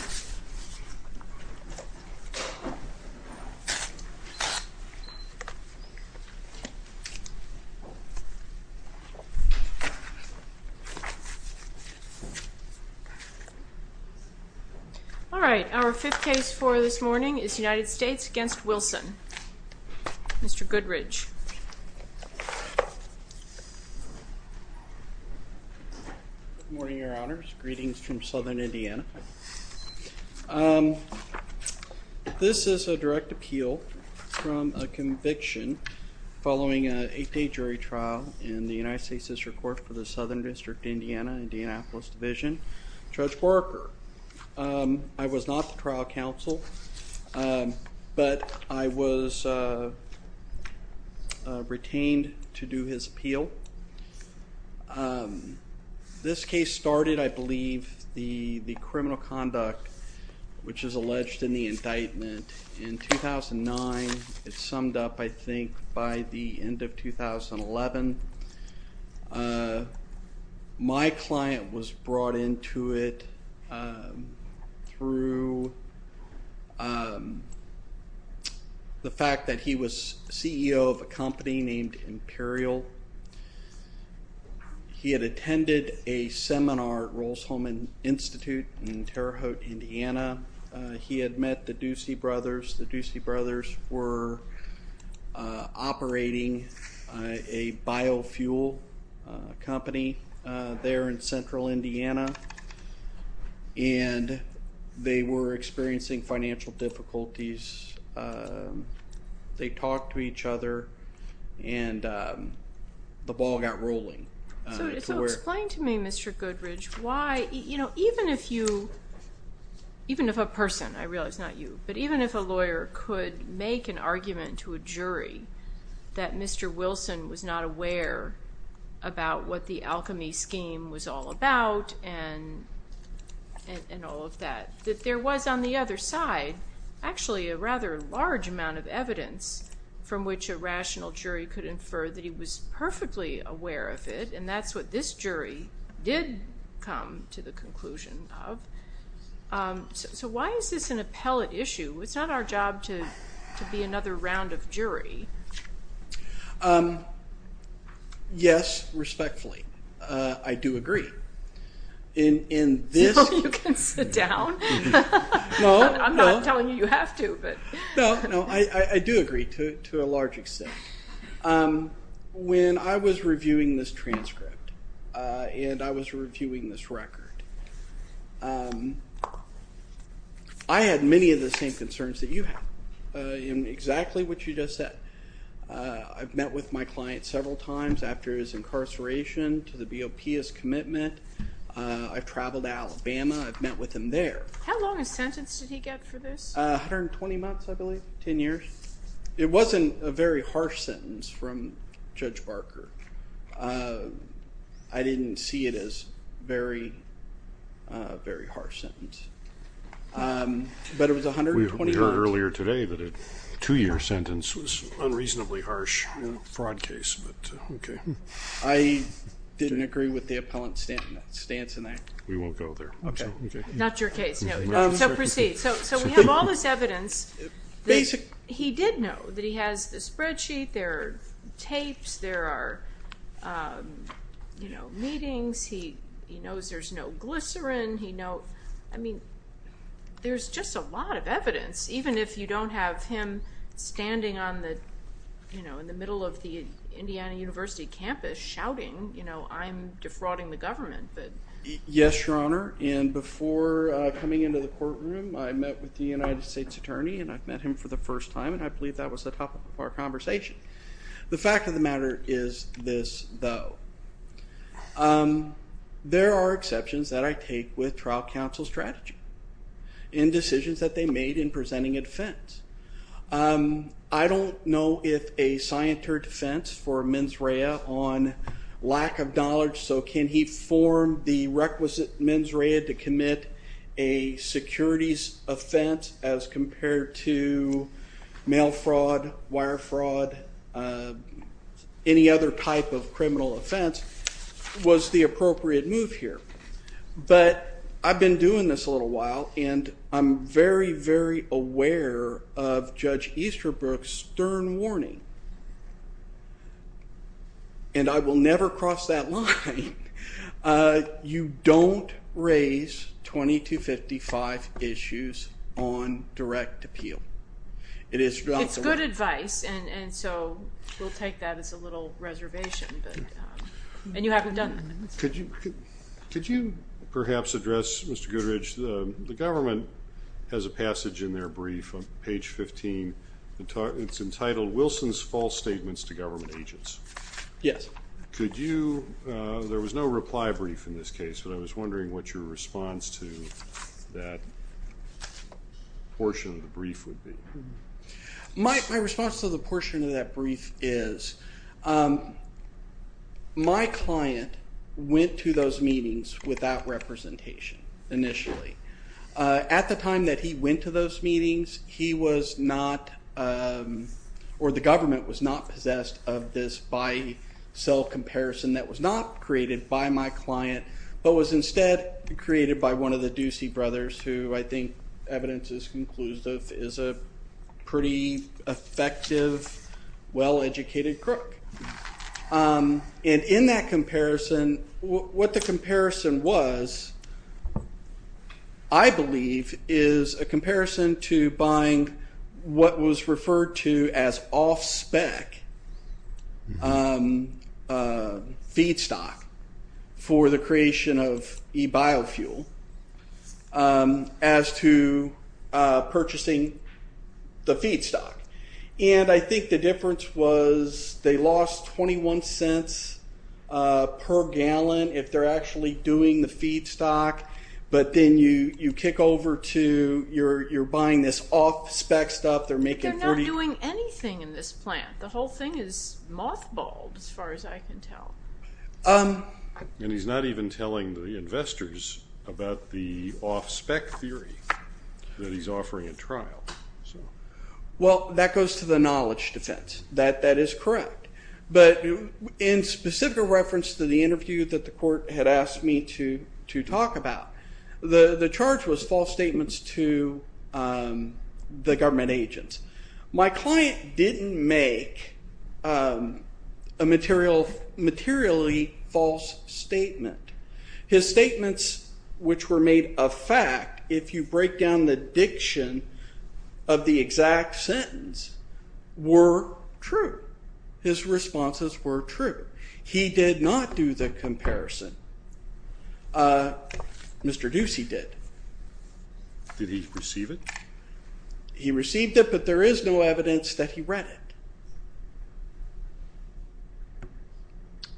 All right, our fifth case for this morning is United States v. Wilson. Mr. Goodridge. Good morning, Your Honors. Greetings from Southern Indiana. This is a direct appeal from a conviction following an eight-day jury trial in the United States District Court for the Southern District of Indiana, Indianapolis Division. Judge Borker, I was not the trial counsel, but I was retained to do his appeal. This case started, I believe, the criminal conduct which is alleged in the indictment in 2009. It's summed up, I think, by the end of 2011. My client was brought into it through the fact that he was CEO of a company named Imperial. He had attended a seminar at Rolls-Royce Institute in Terre Haute, Indiana. He had met the Ducey brothers. The Ducey brothers were operating a biofuel company there in central Indiana and they were experiencing financial difficulties. They talked to each other and the ball got rolling. So explain to me, Mr. Goodridge, why, you know, even if you, even if a person, I realize not you, but even if a lawyer could make an argument to a jury that Mr. Wilson was not aware about what the alchemy scheme was all about and all of that, that there was on the other side actually a rather large amount of evidence from which a rational jury could infer that he was perfectly aware of it and that's what this jury did come to the conclusion of. So why is this an appellate issue? It's not our job to be another round of jury. Yes, respectfully, I do agree. No, you can sit down. I'm not telling you you have to. I do agree to a large extent. When I was reviewing this transcript and I was reviewing this record, I had many of the same concerns that you have in exactly what you just said. I've met with my client several times after his incarceration to the BOPS commitment. I've traveled to Alabama. I've met with him there. How long a sentence did he get for this? 120 months, I believe, 10 years. It wasn't a very harsh sentence from Judge Barker. I didn't see it as very, very harsh sentence, but it was 120 months. We heard earlier today that a two-year sentence was unreasonably harsh in a fraud case, but okay. I didn't agree with the appellant's stance on that. We won't go there. Okay, not your case. So proceed. So we have all this evidence. He did know that he has the spreadsheet, there are tapes, there are, you know, meetings. He knows there's no glycerin. I mean, there's just a lot of evidence, even if you don't have him standing on the, you know, in the middle of the Indiana University campus shouting, you know, I'm defrauding the government. Yes, Your Honor, and before coming into the courtroom I met with the United States Attorney and I've met him for the first time and I believe that was the topic of our conversation. The fact of the matter is this, though. There are exceptions that I take with trial counsel strategy in decisions that they made in presenting a defense. I don't know if a scienter defense for mens rea on lack of knowledge, so can he form the requisite mens rea to commit a securities offense as compared to mail fraud, wire fraud, any other type of criminal offense, was the appropriate move here. But I've been doing this a little while and I'm very, very aware of Judge Easterbrook's stern warning, and I will never cross that line. You don't raise 2255 issues on And you haven't done that. Could you perhaps address, Mr. Goodrich, the government has a passage in their brief on page 15. It's entitled, Wilson's False Statements to Government Agents. Yes. Could you, there was no reply brief in this case, but I was wondering what your response to that portion of My response to the portion of that brief is, my client went to those meetings without representation initially. At the time that he went to those meetings, he was not, or the government was not possessed of this by cell comparison that was not created by my client, but was instead created by one of the Ducey brothers, who I think evidence is conclusive, is a pretty effective, well-educated crook. And in that comparison, what the comparison was, I believe, is a comparison to buying what was as to purchasing the feedstock. And I think the difference was they lost 21 cents per gallon if they're actually doing the feedstock, but then you kick over to, you're buying this off-spec stuff, they're making 40. They're not doing anything in this plant. The whole thing is mothballed, as far as I can tell. And he's not even telling the investors about the off-spec theory that he's offering in trial. Well, that goes to the knowledge defense. That is correct, but in specific reference to the interview that the court had asked me to talk about, the charge was false statements to the government agents. My client didn't make a materially false statement. His statements, which were made a fact, if you break down the diction of the exact sentence, were true. His responses were true. He did not do the comparison. Mr. Ducey did. Did he receive it? He received it, but there is no evidence that he read it.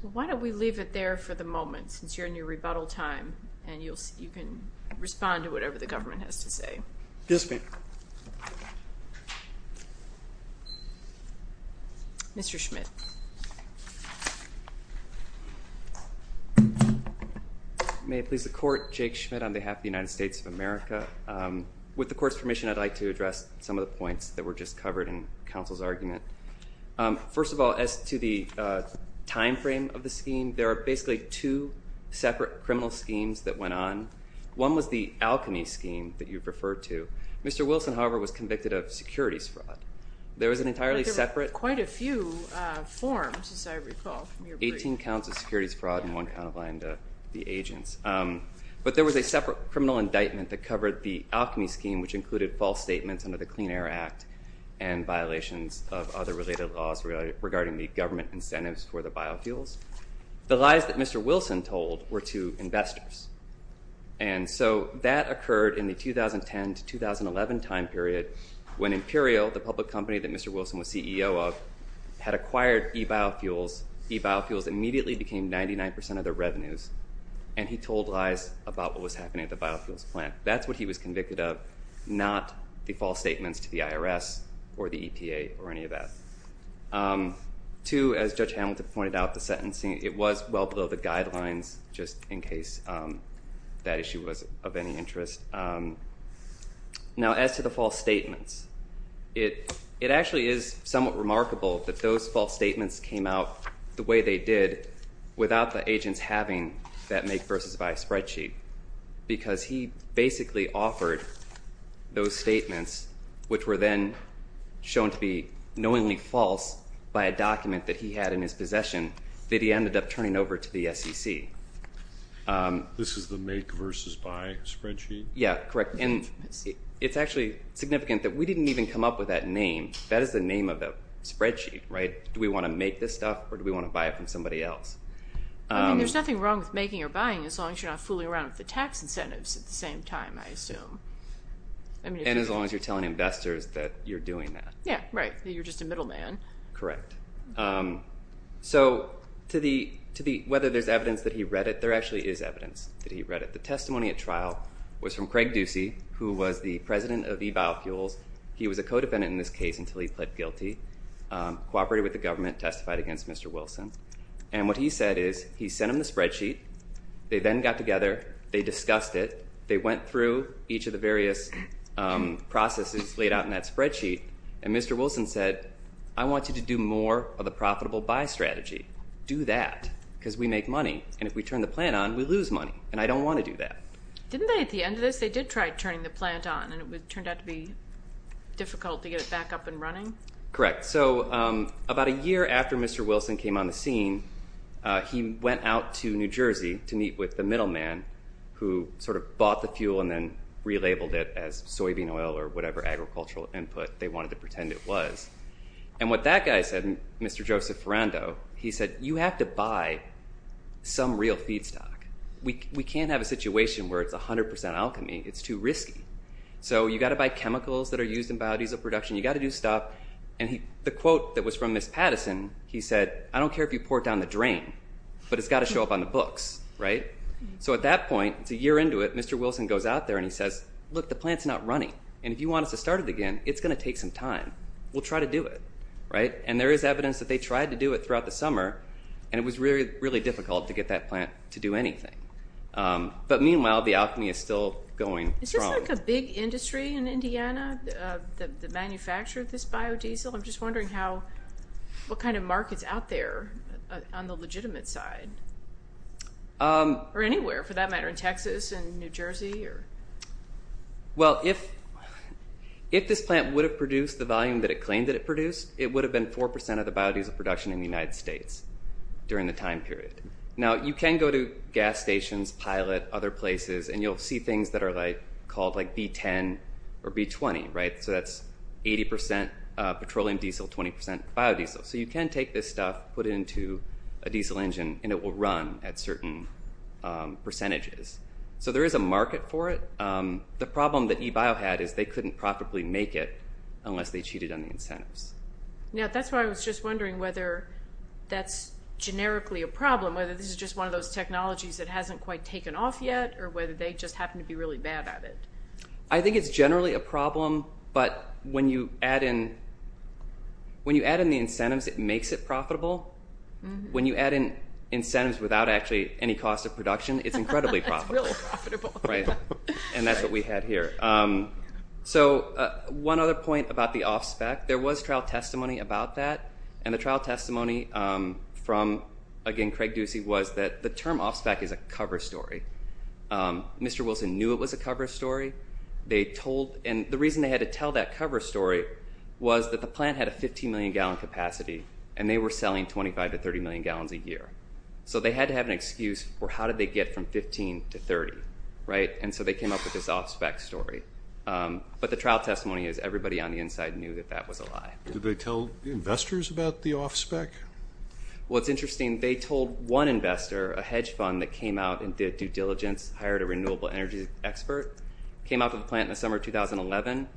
Well, why don't we leave it there for the moment, since you're in your rebuttal time, and you can respond to whatever the government has to say. Yes, ma'am. Mr. Schmidt. May it please the court, Jake Schmidt on behalf of the United States of America. With the court's permission, I'd like to address some of the points that were just covered in counsel's argument. First of all, as to the time frame of the scheme, there are basically two separate criminal schemes that went on. One was the alchemy scheme that you referred to. Mr. Wilson, however, was convicted of securities fraud. There was an entirely separate- Forms, as I recall from your brief. Eighteen counts of securities fraud and one count of lying to the agents. But there was a separate criminal indictment that covered the alchemy scheme, which included false statements under the Clean Air Act and violations of other related laws regarding the government incentives for the biofuels. The lies that Mr. Wilson told were to investors. And so that occurred in the 2010 to where e-biofuels immediately became 99% of their revenues. And he told lies about what was happening at the biofuels plant. That's what he was convicted of, not the false statements to the IRS or the EPA or any of that. Two, as Judge Hamilton pointed out, the sentencing, it was well below the guidelines, just in case that issue was of any interest. Now, as to the false statements came out the way they did without the agents having that make-versus-buy spreadsheet, because he basically offered those statements, which were then shown to be knowingly false by a document that he had in his possession, that he ended up turning over to the SEC. This is the make-versus-buy spreadsheet? Yeah, correct. And it's actually significant that we didn't even come up with that name. That is the name of the spreadsheet, right? Do we want to make this stuff or do we want to buy it from somebody else? I mean, there's nothing wrong with making or buying as long as you're not fooling around with the tax incentives at the same time, I assume. And as long as you're telling investors that you're doing that. Yeah, right. You're just a middleman. Correct. So whether there's evidence that he read it, there actually is evidence that he read it. The testimony at trial was from Craig Ducey, who was the president of e-biofuels. He was a lawyer. He would have been in this case until he pled guilty, cooperated with the government, testified against Mr. Wilson. And what he said is, he sent him the spreadsheet, they then got together, they discussed it, they went through each of the various processes laid out in that spreadsheet, and Mr. Wilson said, I want you to do more of the profitable buy strategy. Do that. Because we make money. And if we turn the plant on, we lose money. And I don't want to do that. Didn't they at the end of this, they did try turning the plant on and it turned out to be difficult to get it back up and running? Correct. So about a year after Mr. Wilson came on the scene, he went out to New Jersey to meet with the middleman who sort of bought the fuel and then relabeled it as soybean oil or whatever agricultural input they wanted to pretend it was. And what that guy said, Mr. Joseph Ferrando, he said, you have to buy some real feedstock. We can't have a situation where it's 100% alchemy. It's too risky. So you've got to buy chemicals that are used in biodiesel production. You've got to do stuff. And the quote that was from Miss Patterson, he said, I don't care if you pour down the drain, but it's got to show up on the books. So at that point, it's a year into it, Mr. Wilson goes out there and he says, look, the plant's not running. And if you want us to start it again, it's going to take some time. We'll try to do it. And there is evidence that they tried to do it throughout the summer. And it was really, really difficult to get that plant to do anything. But meanwhile, the alchemy is still going strong. Is this like a big industry in Indiana that manufactured this biodiesel? I'm just wondering how, what kind of markets out there on the legitimate side, or anywhere for that matter, in Texas and New Jersey? Well, if this plant would have produced the volume that it claimed that it produced, it would have been 4% of the biodiesel production in the United States during the time period. Now, you can go to gas stations, pilot, other places, and you'll see things that are called like B10 or B20, right? So that's 80% petroleum diesel, 20% biodiesel. So you can take this stuff, put it into a diesel engine and it will run at certain percentages. So there is a market for it. The problem that eBio had is they couldn't profitably make it unless they cheated on incentives. Now, that's why I was just wondering whether that's generically a problem, whether this is just one of those technologies that hasn't quite taken off yet, or whether they just happen to be really bad at it. I think it's generally a problem, but when you add in the incentives, it makes it profitable. When you add in incentives without actually any cost of production, it's incredibly profitable. It's really profitable. Right. And that's what we had here. So one other point about the offspec, there was trial testimony about that. And the trial testimony from, again, Craig Ducey was that the term offspec is a cover story. Mr. Wilson knew it was a cover story. They told, and the reason they had to tell that cover story was that the plant had a 15 million gallon capacity and they were selling 25 to 30 million gallons a year. So they had to have an excuse for how did they get from 15 to 30, right? And so they came up with this offspec story. But the trial testimony is everybody on the inside knew that that was a lie. Did they tell investors about the offspec? Well, it's interesting. They told one investor, a hedge fund that came out and did due diligence, hired a renewable energy expert, came out to the plant in the summer of 2011.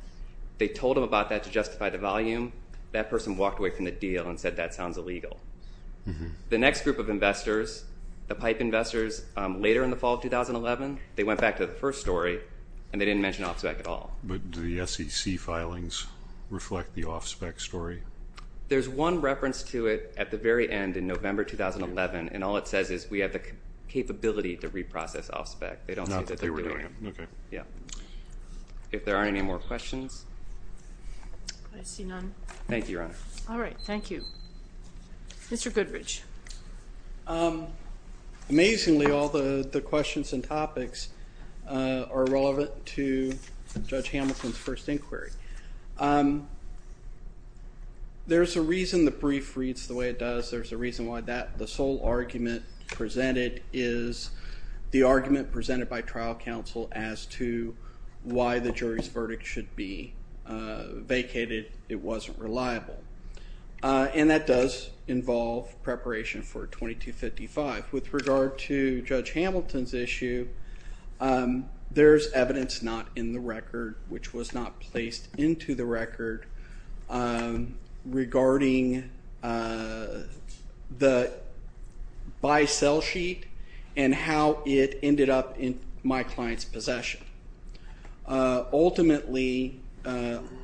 They told them about that to justify the volume. That person walked away from the deal and said, that sounds illegal. The next group of investors, the pipe investors, later in the fall of 2011, they went back to the first story and they didn't mention offspec at all. But do the SEC filings reflect the offspec story? There's one reference to it at the very end in November 2011. And all it says is we have the capability to reprocess offspec. They don't say that they're doing it. Not that they were doing it. Okay. Yeah. If there aren't any more questions. I see none. Thank you, Your Honor. All right. Thank you. Mr. Goodrich. Amazingly, all the questions and topics are relevant to Judge Hamilton's first inquiry. There's a reason the brief reads the way it does. There's a reason why the sole argument presented is the argument presented by trial counsel as to why the jury's verdict should be 2255. With regard to Judge Hamilton's issue, there's evidence not in the record which was not placed into the record regarding the buy sell sheet and how it ended up in my client's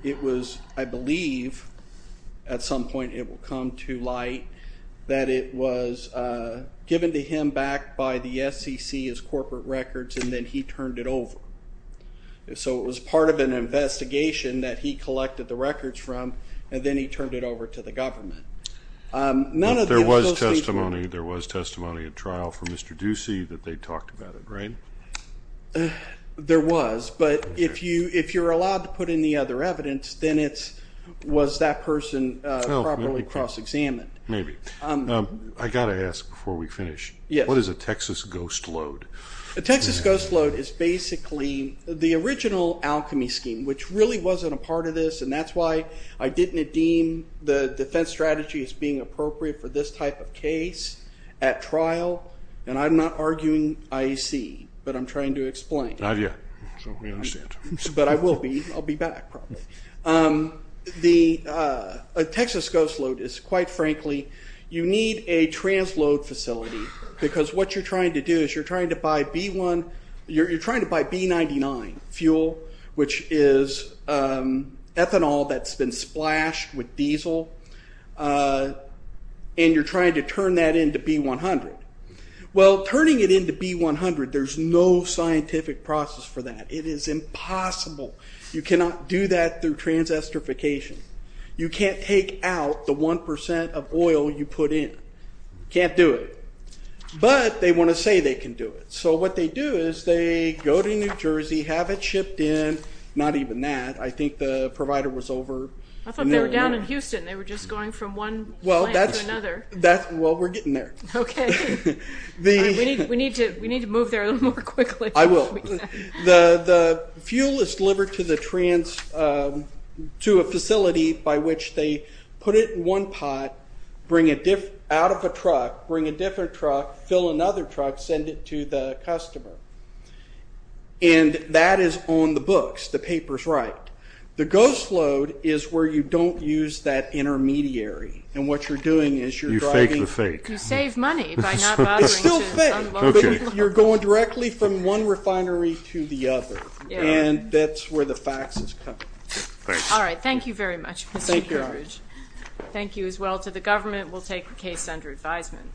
It was, I believe, at some point it will come to light that it was given to him back by the SEC as corporate records and then he turned it over. So it was part of an investigation that he collected the records from and then he turned it over to the government. There was testimony, there was testimony at trial for Mr. Ducey that they talked about it, right? There was, but if you're allowed to put in the other evidence, then it's, was that person properly cross-examined? Maybe. I got to ask before we finish. What is a Texas ghost load? A Texas ghost load is basically the original alchemy scheme, which really wasn't a part of this and that's why I didn't deem the defense strategy as being appropriate for this type of case at trial and I'm not arguing IEC, but I'm trying to explain. Not yet, so we understand. But I will be, I'll be back probably. A Texas ghost load is quite frankly, you need a transload facility because what you're trying to do is you're trying to buy B1, you're trying to buy B99 fuel, which is ethanol that's been splashed with diesel and you're trying to turn that into B100. Well, turning it into B100, there's no scientific process for that. It is impossible. You cannot do that through transesterification. You can't take out the 1% of oil you put in. Can't do it. But they want to say they can do it. So what they do is they go to New Jersey, have it shipped in, not even that, I think the provider was over. I thought they were down in Houston. They were just going from one plant to another. That's, well, we're getting there. Okay. We need to move there a little more quickly. I will. The fuel is delivered to the trans, to a facility by which they put it in one pot, bring it out of a truck, bring a different truck, fill another truck, send it to the customer. And that is on the books. The paper's right. The ghost load is where you don't use that intermediary. And what you're doing is you're driving... You fake the fake. You save money by not bothering to unload. It's still fake. Okay. But you're going directly from one refinery to the other. Yeah. And that's where the fax is coming from. Thanks. All right. Thank you very much, Mr. Gingrich. Thank you. Thank you as well to the government. We'll take the case under advisement.